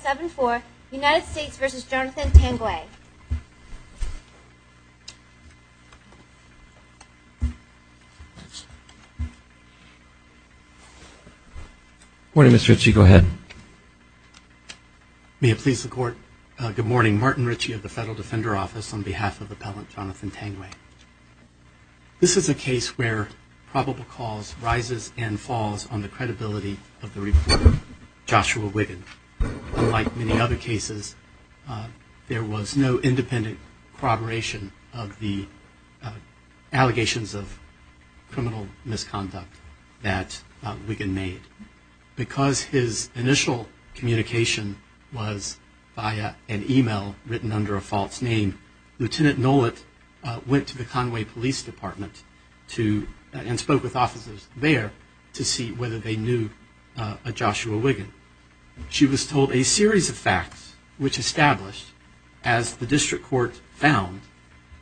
7-4, United States v. Jonathan Tanguay. Good morning, Ms. Ritchie. Go ahead. May it please the Court, good morning. Martin Ritchie of the Federal Defender Office on behalf of Appellant Jonathan Tanguay. This is a case where probable cause rises and falls on the credibility of the reporter, Joshua Wiggin. Unlike many other cases, there was no independent corroboration of the allegations of criminal misconduct that Wiggin made. Because his initial communication was via an email written under a false name, Lt. Nolet went to the Conway Police Department and spoke with officers there to see whether they knew Joshua Wiggin. She was told a series of facts which established, as the District Court found,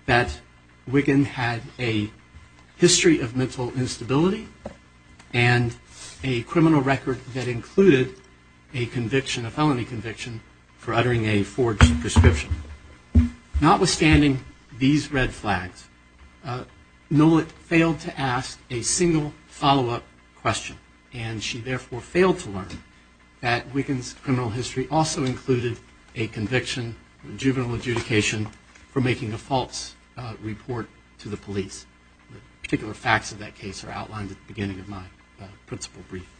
that Wiggin had a history of mental instability and a criminal record that included a felony conviction for uttering a forged prescription. Notwithstanding these red flags, Nolet failed to ask a single follow-up question and she therefore failed to learn that Wiggin's criminal history also included a conviction, a juvenile adjudication, for making a false report to the police. Particular facts of that case are outlined at the beginning of my principle brief.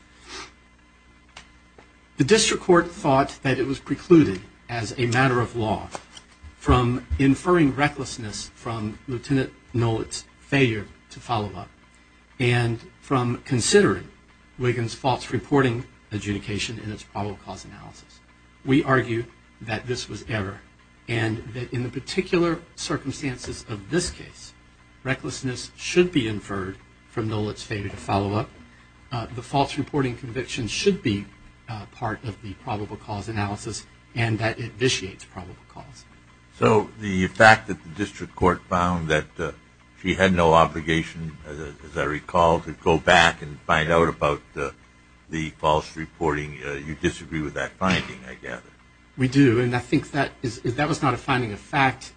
The District Court thought that it was precluded as a matter of law from inferring recklessness from Lt. Nolet's failure to follow up and from considering Wiggin's false reporting adjudication in its probable cause analysis. We argue that this was error and that in the particular circumstances of this case, recklessness should be inferred from Nolet's failure to follow up. The false reporting conviction should be part of the probable cause analysis and that it vitiates probable cause. So the fact that the District Court found that she had no obligation, as I recall, to go back and find out about the false reporting, you disagree with that finding, I gather? We do, and I think that was not a finding of fact.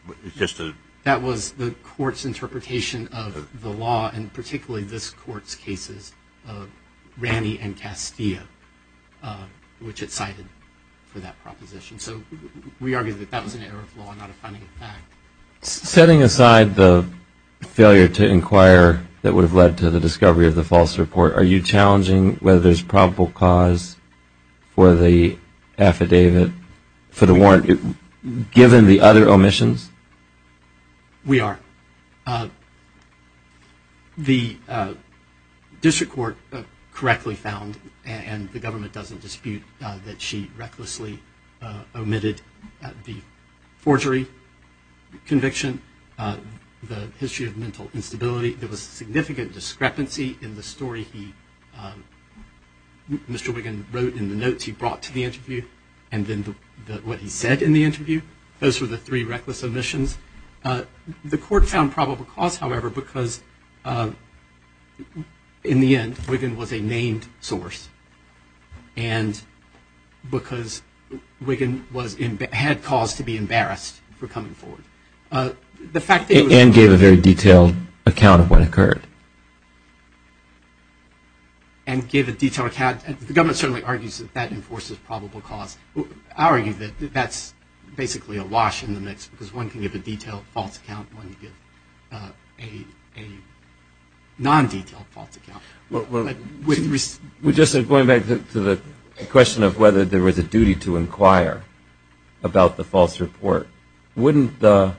That was the Court's interpretation of the law, and particularly this Court's cases, of Ranney and Castillo, which it cited for that proposition. So we argue that that was an error of law, not a finding of fact. Setting aside the failure to inquire that would have led to the discovery of the false report, are you challenging whether there's probable cause for the affidavit, for the warrant, given the other omissions? We are. The District Court correctly found, and the government doesn't dispute, that she recklessly omitted the forgery conviction, the history of mental instability. There was significant discrepancy in the story he, Mr. Wiggin wrote in the notes he brought to the interview, and then what he said in the interview. Those were the three reckless omissions. The Court found probable cause, however, because in the end, Wiggin was a named source, and because Wiggin had cause to be embarrassed for coming forward. And give a detailed account. The government certainly argues that that enforces probable cause. I argue that that's basically a wash in the mix, because one can give a detailed false account, and one can give a non-detailed false account. Going back to the question of whether there was a duty to inquire about the false report, wouldn't the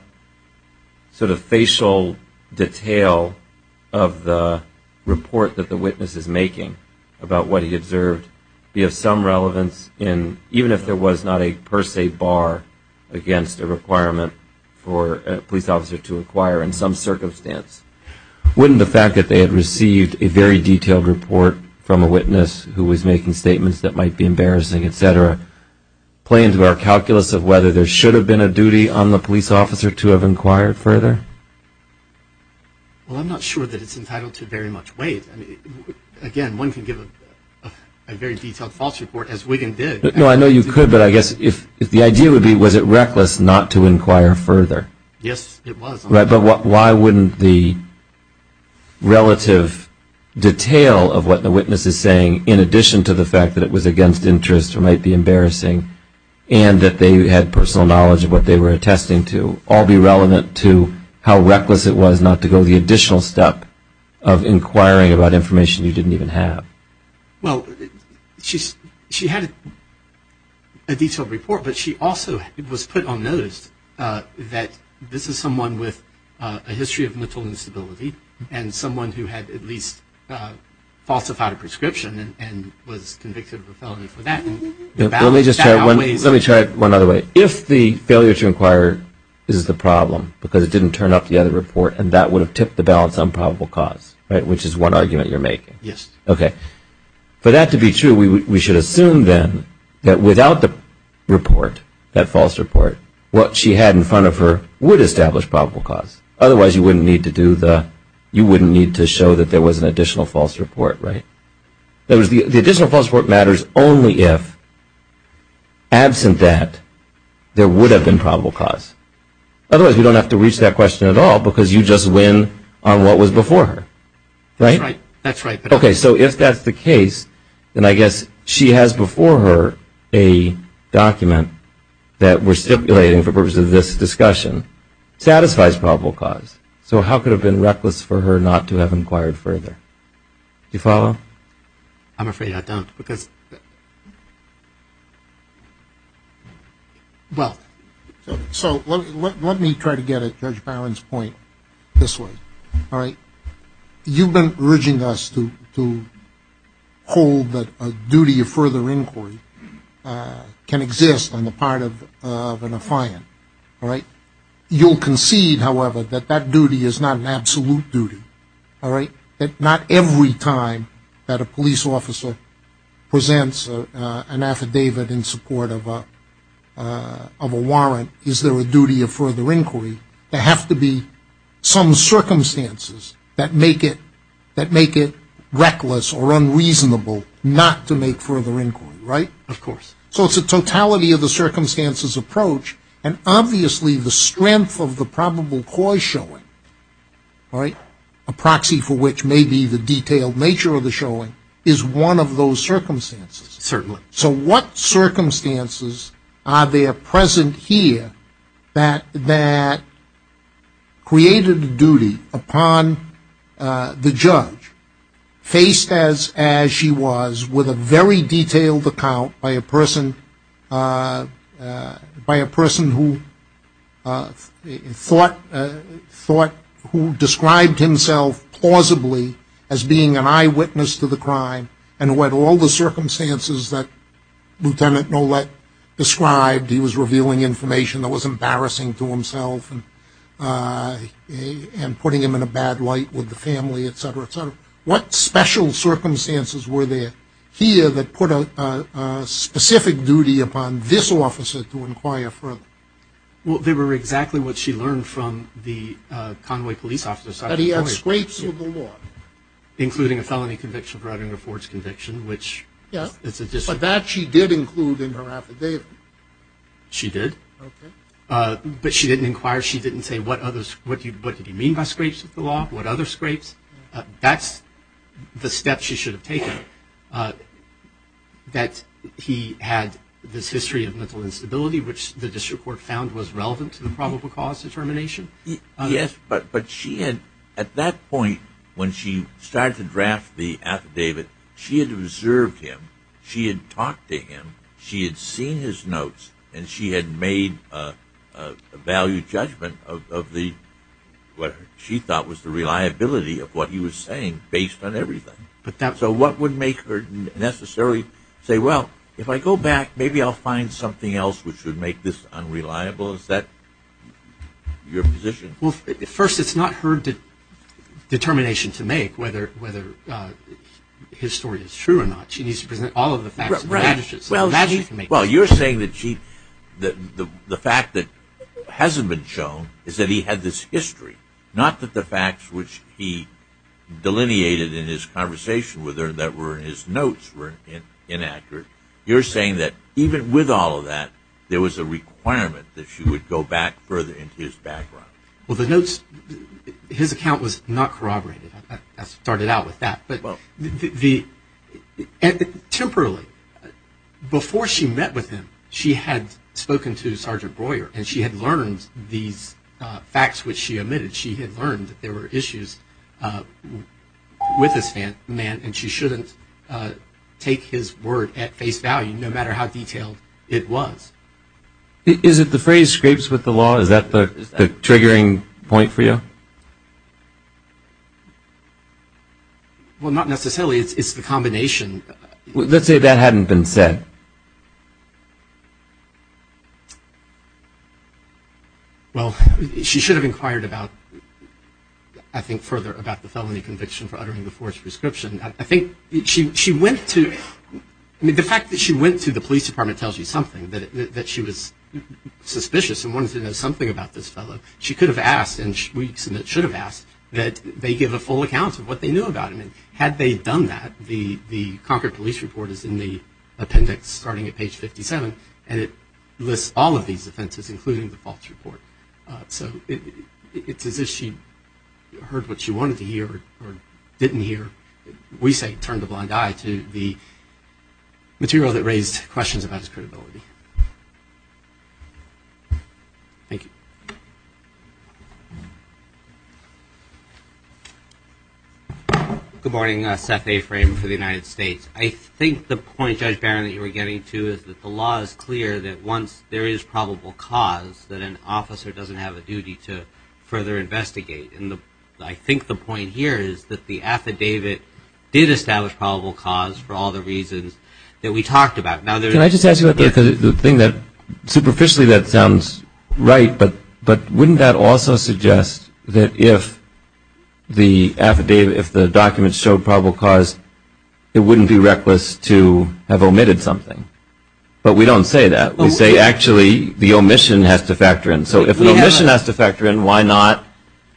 sort of facial detail of the report that the witness is making about what he observed be of some relevance, even if there was not a per se bar against a requirement for a police officer to inquire in some circumstance? Wouldn't the fact that they had received a very detailed report from a witness who was making statements that might be embarrassing, etc., play into our calculus of whether there should have been a duty on the police officer to have inquired further? Well, I'm not sure that it's entitled to very much weight. Again, one can give a very detailed false report, as Wiggin did. No, I know you could, but I guess if the idea would be, was it reckless not to inquire further? Yes, it was. Right, but why wouldn't the relative detail of what the witness is saying, in addition to the fact that it was against interest or might be embarrassing, and that they had personal knowledge of what they were attesting to, all be relevant to how reckless it was not to go the additional step of inquiring about information you didn't even have? Well, she had a detailed report, but she also was put on notice that this is someone with a history of mental instability and someone who had at least falsified a prescription and was convicted of a felony for that. Let me just try it one other way. If the failure to inquire is the problem because it didn't turn up the other report and that would have tipped the balance on probable cause, right, which is one argument you're making. Yes. Okay. For that to be true, we should assume then that without the report, that false report, what she had in front of her would establish probable cause. Otherwise, you wouldn't need to show that there was an additional false report, right? The additional false report matters only if, absent that, there would have been probable cause. Otherwise, we don't have to reach that question at all because you just win on what was before her. Right? That's right. Okay. So if that's the case, then I guess she has before her a document that we're stipulating for the purpose of this discussion satisfies probable cause. So how could it have been reckless for her not to have inquired further? Do you follow? I'm afraid I don't because... Well, so let me try to get at Judge Barron's point this way. All right? You've been urging us to hold that a duty of further inquiry can exist on the part of a defiant. All right? You'll concede, however, that that duty is not an absolute duty. All right? That not every time that a police officer presents an affidavit in support of a warrant is there a duty of further inquiry. There have to be some circumstances that make it reckless or unreasonable not to make further inquiry. Right? Of course. So it's a totality-of-the-circumstances approach, and obviously the strength of the probable cause showing, a proxy for which may be the detailed nature of the showing, is one of those circumstances. Certainly. So what circumstances are there present here that created a duty upon the judge, faced as she was with a very detailed account by a person who thought, who described himself plausibly as being an eyewitness to the crime, and what all the circumstances that Lieutenant Nolet described, he was revealing information that was embarrassing to himself and putting him in a bad light with the family, et cetera, et cetera. What special circumstances were there here that put a specific duty upon this officer to inquire further? Well, they were exactly what she learned from the Conway police officer. That he had scrapes with the law. Including a felony conviction for uttering a forged conviction, which is a discipline. But that she did include in her affidavit. She did. Okay. But she didn't inquire. She didn't say what did he mean by scrapes with the law, what other scrapes. That's the step she should have taken. That he had this history of mental instability, which the district court found was relevant to the probable cause determination. Yes. But she had, at that point, when she started to draft the affidavit, she had observed him. She had seen his notes. And she had made a value judgment of what she thought was the reliability of what he was saying based on everything. So what would make her necessarily say, well, if I go back, maybe I'll find something else which would make this unreliable. Is that your position? Well, first, it's not her determination to make whether his story is true or not. She needs to present all of the facts. Well, you're saying that the fact that hasn't been shown is that he had this history, not that the facts which he delineated in his conversation with her that were in his notes were inaccurate. You're saying that even with all of that, there was a requirement that she would go back further into his background. Well, the notes, his account was not corroborated. I started out with that. Temporally, before she met with him, she had spoken to Sergeant Breuer, and she had learned these facts which she omitted. She had learned that there were issues with this man, and she shouldn't take his word at face value, no matter how detailed it was. Is it the phrase scrapes with the law? Is that the triggering point for you? No. Well, not necessarily. It's the combination. Let's say that hadn't been said. Well, she should have inquired about, I think, further about the felony conviction for uttering the forced prescription. I think she went to the fact that she went to the police department tells you something, that she was suspicious and wanted to know something about this fellow. She could have asked, and we submit should have asked, that they give a full account of what they knew about him. And had they done that, the Concord Police Report is in the appendix starting at page 57, and it lists all of these offenses, including the false report. So it's as if she heard what she wanted to hear or didn't hear. We say turn the blind eye to the material that raised questions about his credibility. Thank you. Good morning. Seth A. Frame for the United States. I think the point, Judge Barron, that you were getting to is that the law is clear that once there is probable cause, that an officer doesn't have a duty to further investigate. And I think the point here is that the affidavit did establish probable cause for all the reasons that we talked about. Can I just ask you, superficially that sounds right, but wouldn't that also suggest that if the document showed probable cause, it wouldn't be reckless to have omitted something? But we don't say that. We say actually the omission has to factor in. So if an omission has to factor in, why not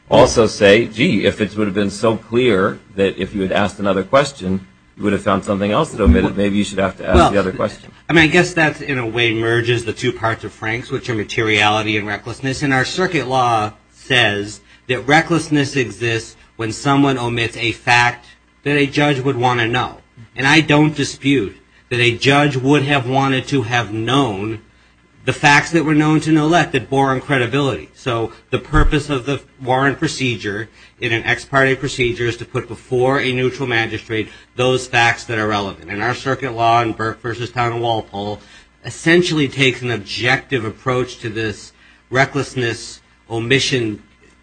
also say, gee, if it would have been so clear that if you had asked another question, you would have found something else that omitted, maybe you should have to ask the other question. I mean, I guess that in a way merges the two parts of Frank's, which are materiality and recklessness. And our circuit law says that recklessness exists when someone omits a fact that a judge would want to know. And I don't dispute that a judge would have wanted to have known the facts that were known to know that bore on credibility. So the purpose of the Warren procedure in an ex parte procedure is to put before a neutral magistrate those facts that are relevant. And our circuit law in Burke v. Town & Walpole essentially takes an objective approach to this recklessness omission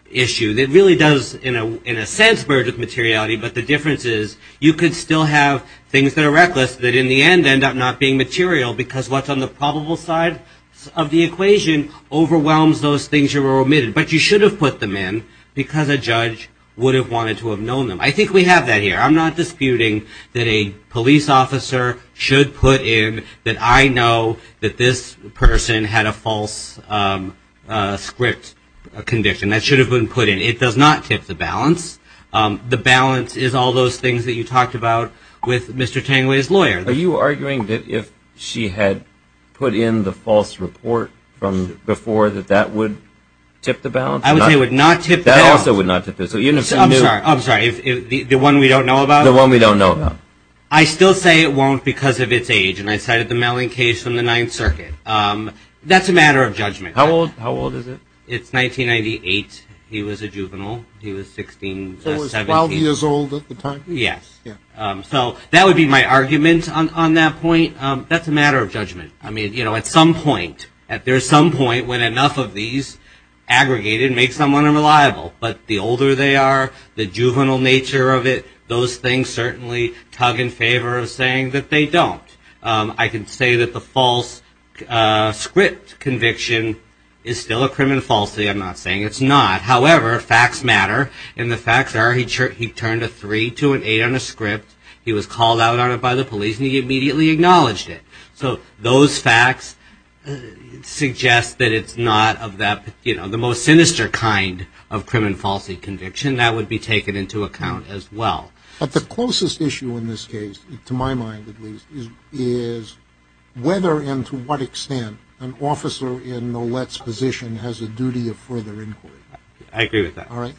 issue that really does in a sense merge with materiality, but the difference is you could still have things that are reckless that in the end end up not being material because what's on the probable side of the equation overwhelms those things that were omitted. But you should have put them in because a judge would have wanted to have known them. I think we have that here. I'm not disputing that a police officer should put in that I know that this person had a false script conviction. That should have been put in. It does not tip the balance. The balance is all those things that you talked about with Mr. Tangway's lawyer. Are you arguing that if she had put in the false report from before that that would tip the balance? That also would not tip the balance. I'm sorry. The one we don't know about? The one we don't know about. I still say it won't because of its age, and I cited the Melling case from the Ninth Circuit. That's a matter of judgment. How old is it? It's 1998. He was a juvenile. He was 16, 17. So he was 12 years old at the time? Yes. So that would be my argument on that point. That's a matter of judgment. I mean, you know, at some point, at some point when enough of these aggregated facts can make someone unreliable, but the older they are, the juvenile nature of it, those things certainly tug in favor of saying that they don't. I can say that the false script conviction is still a criminal falsity. I'm not saying it's not. However, facts matter, and the facts are he turned a 3, 2, and 8 on a script. He was called out on it by the police, and he immediately acknowledged it. So those facts suggest that it's not of that, you know, the most sinister kind of criminal falsity conviction. That would be taken into account as well. But the closest issue in this case, to my mind at least, is whether and to what extent an officer in Nolet's position has a duty of further inquiry. I agree with that. All right.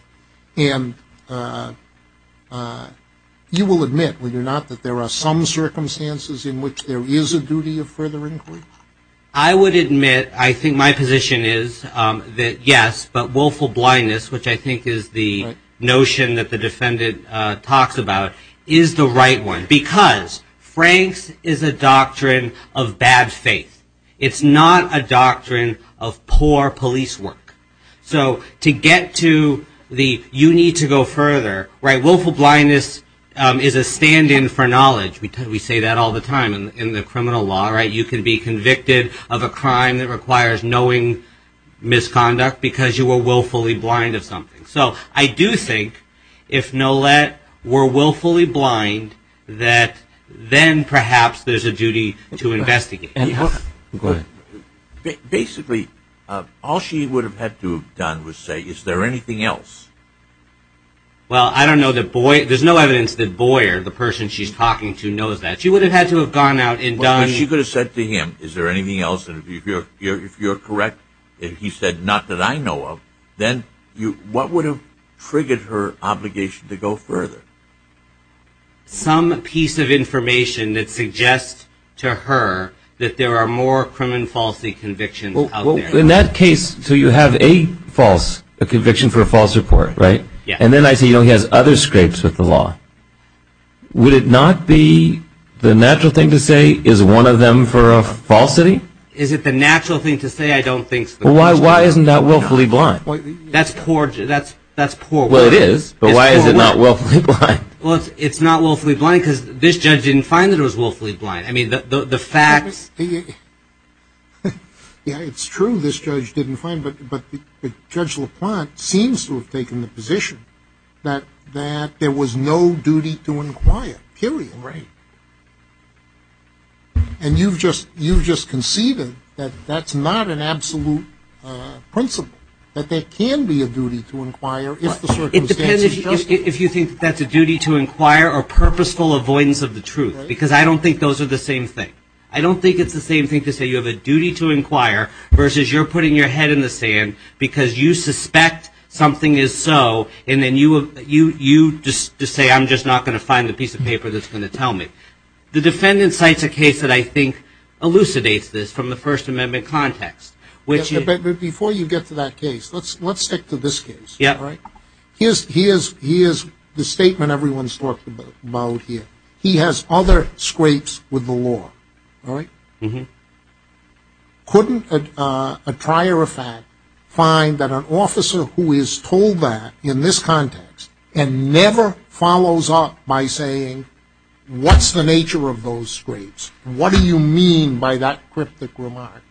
And you will admit, will you not, that there are some circumstances in which there is a duty of further inquiry? I would admit, I think my position is that yes, but willful blindness, which I think is the notion that the defendant talks about, is the right one, because Frank's is a doctrine of bad faith. It's not a doctrine of poor police work. So to get to the you need to go further, right, willful blindness is a stand-in for knowledge. We say that all the time in the criminal law, right? You can be convicted of a crime that requires knowing misconduct because you were willfully blind of something. So I do think if Nolet were willfully blind, that then perhaps there's a duty to investigate. Basically, all she would have had to have done was say, is there anything else? Well, I don't know that Boyer, there's no evidence that Boyer, the person she's talking to, knows that. She would have had to have gone out and done. Well, she could have said to him, is there anything else, and if you're correct, and he said, not that I know of, then what would have triggered her obligation to go further? Some piece of information that suggests to her that there are more criminal falsely convictions out there. In that case, so you have a false conviction for a false report, right? And then I see he has other scrapes with the law. Would it not be the natural thing to say is one of them for a falsity? Is it the natural thing to say? I don't think so. Well, why isn't that willfully blind? That's poor. Well, it is, but why is it not willfully blind? Well, it's not willfully blind because this judge didn't find that it was willfully blind. I mean, the facts. Yeah, it's true this judge didn't find it, but Judge LaPlante seems to have taken the position that there was no duty to inquire, period. Right. And you've just conceded that that's not an absolute principle, that there can be a duty to inquire. It depends if you think that's a duty to inquire or purposeful avoidance of the truth. Because I don't think those are the same thing. I don't think it's the same thing to say you have a duty to inquire versus you're putting your head in the sand because you suspect something is so, and then you just say I'm just not going to find the piece of paper that's going to tell me. The defendant cites a case that I think elucidates this from the First Amendment context. Before you get to that case, let's stick to this case. Here's the statement everyone's talked about here. He has other scrapes with the law. Couldn't a trier of fact find that an officer who is told that in this context and never follows up by saying what's the nature of those scrapes, what do you mean by that cryptic remark,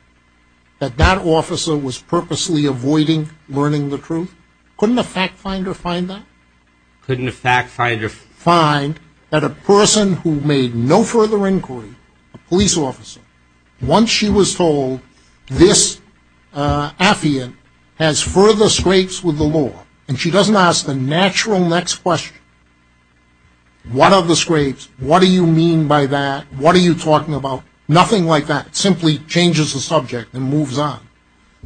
that that officer was purposely avoiding learning the truth? Couldn't a fact finder find that? Couldn't a fact finder find that a person who made no further inquiry, a police officer, once she was told this affiant has further scrapes with the law and she doesn't ask the natural next question, what are the scrapes? What do you mean by that? What are you talking about? Nothing like that. It simply changes the subject and moves on.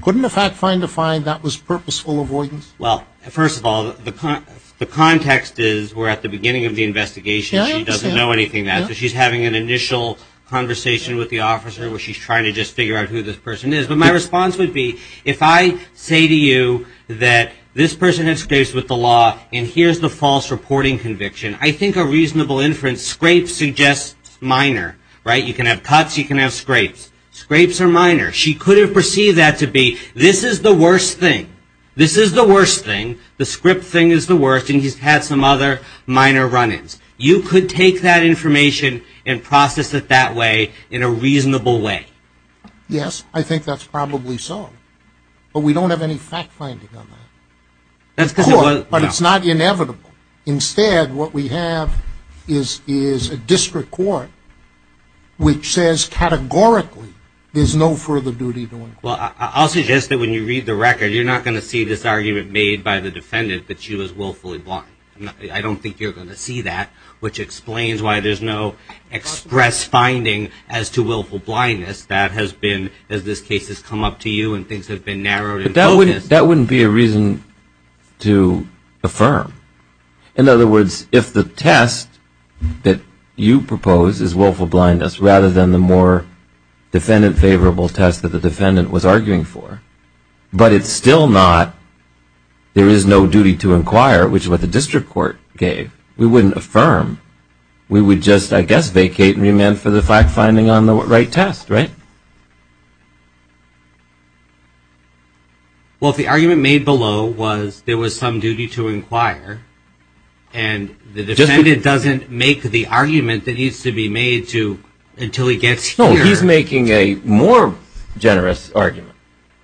Couldn't a fact finder find that was purposeful avoidance? Well, first of all, the context is we're at the beginning of the investigation. She doesn't know anything. She's having an initial conversation with the officer where she's trying to just figure out who this person is. But my response would be if I say to you that this person has scrapes with the law and here's the false reporting conviction, I think a reasonable inference, scrapes suggest minor, right? You can have cuts, you can have scrapes. Scrapes are minor. She could have perceived that to be this is the worst thing. This is the worst thing. The script thing is the worst. And he's had some other minor run-ins. You could take that information and process it that way in a reasonable way. Yes, I think that's probably so. But we don't have any fact finding on that. But it's not inevitable. Instead, what we have is a district court which says categorically there's no further duty to inquire. Well, I'll suggest that when you read the record, you're not going to see this argument made by the defendant that she was willfully blind. I don't think you're going to see that, which explains why there's no express finding as to willful blindness that has been, as this case has come up to you and things have been narrowed in focus. That wouldn't be a reason to affirm. In other words, if the test that you propose is willful blindness rather than the more defendant-favorable test that the defendant was arguing for, but it's still not there is no duty to inquire, which is what the district court gave, we wouldn't affirm. We would just, I guess, vacate and remand for the fact finding on the right test, right? Well, if the argument made below was there was some duty to inquire and the argument is here. No, he's making a more generous argument.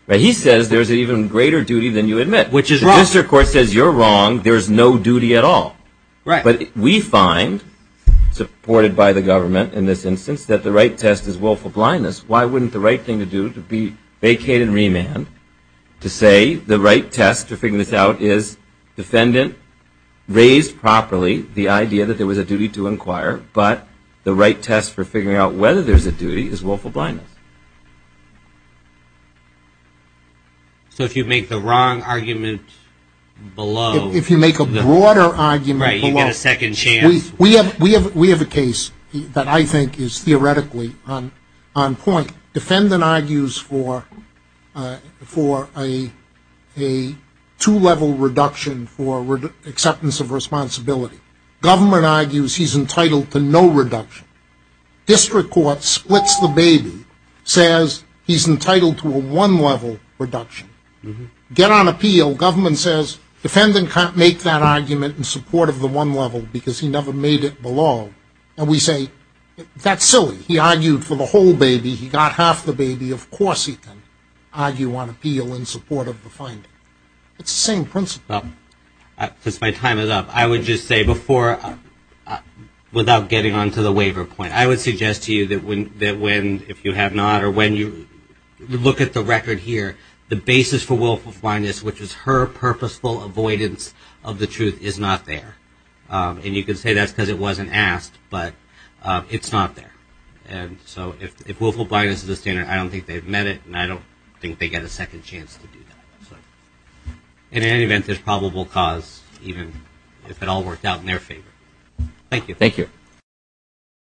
He says there's an even greater duty than you admit. Which is wrong. The district court says you're wrong, there's no duty at all. Right. But we find, supported by the government in this instance, that the right test is willful blindness. Why wouldn't the right thing to do would be vacate and remand to say the right test to figure this out is defendant raised properly the idea that there was a duty to inquire, but the right test for figuring out whether there's a duty is willful blindness. So if you make the wrong argument below. If you make a broader argument below. Right, you get a second chance. We have a case that I think is theoretically on point. Defendant argues for a two-level reduction for acceptance of responsibility. Government argues he's entitled to no reduction. District court splits the baby, says he's entitled to a one-level reduction. Get on appeal. Government says defendant can't make that argument in support of the one level because he never made it below. And we say that's silly. He argued for the whole baby. He got half the baby. Of course he can argue on appeal in support of the finding. It's the same principle. Since my time is up, I would just say before, without getting on to the waiver point, I would suggest to you that when, if you have not, or when you look at the record here, the basis for willful blindness, which is her purposeful avoidance of the truth, is not there. And you can say that's because it wasn't asked, but it's not there. And so if willful blindness is a standard, I don't think they've met it, and I don't think they get a second chance to do that. In any event, there's probable cause, even if it all worked out in their favor. Thank you.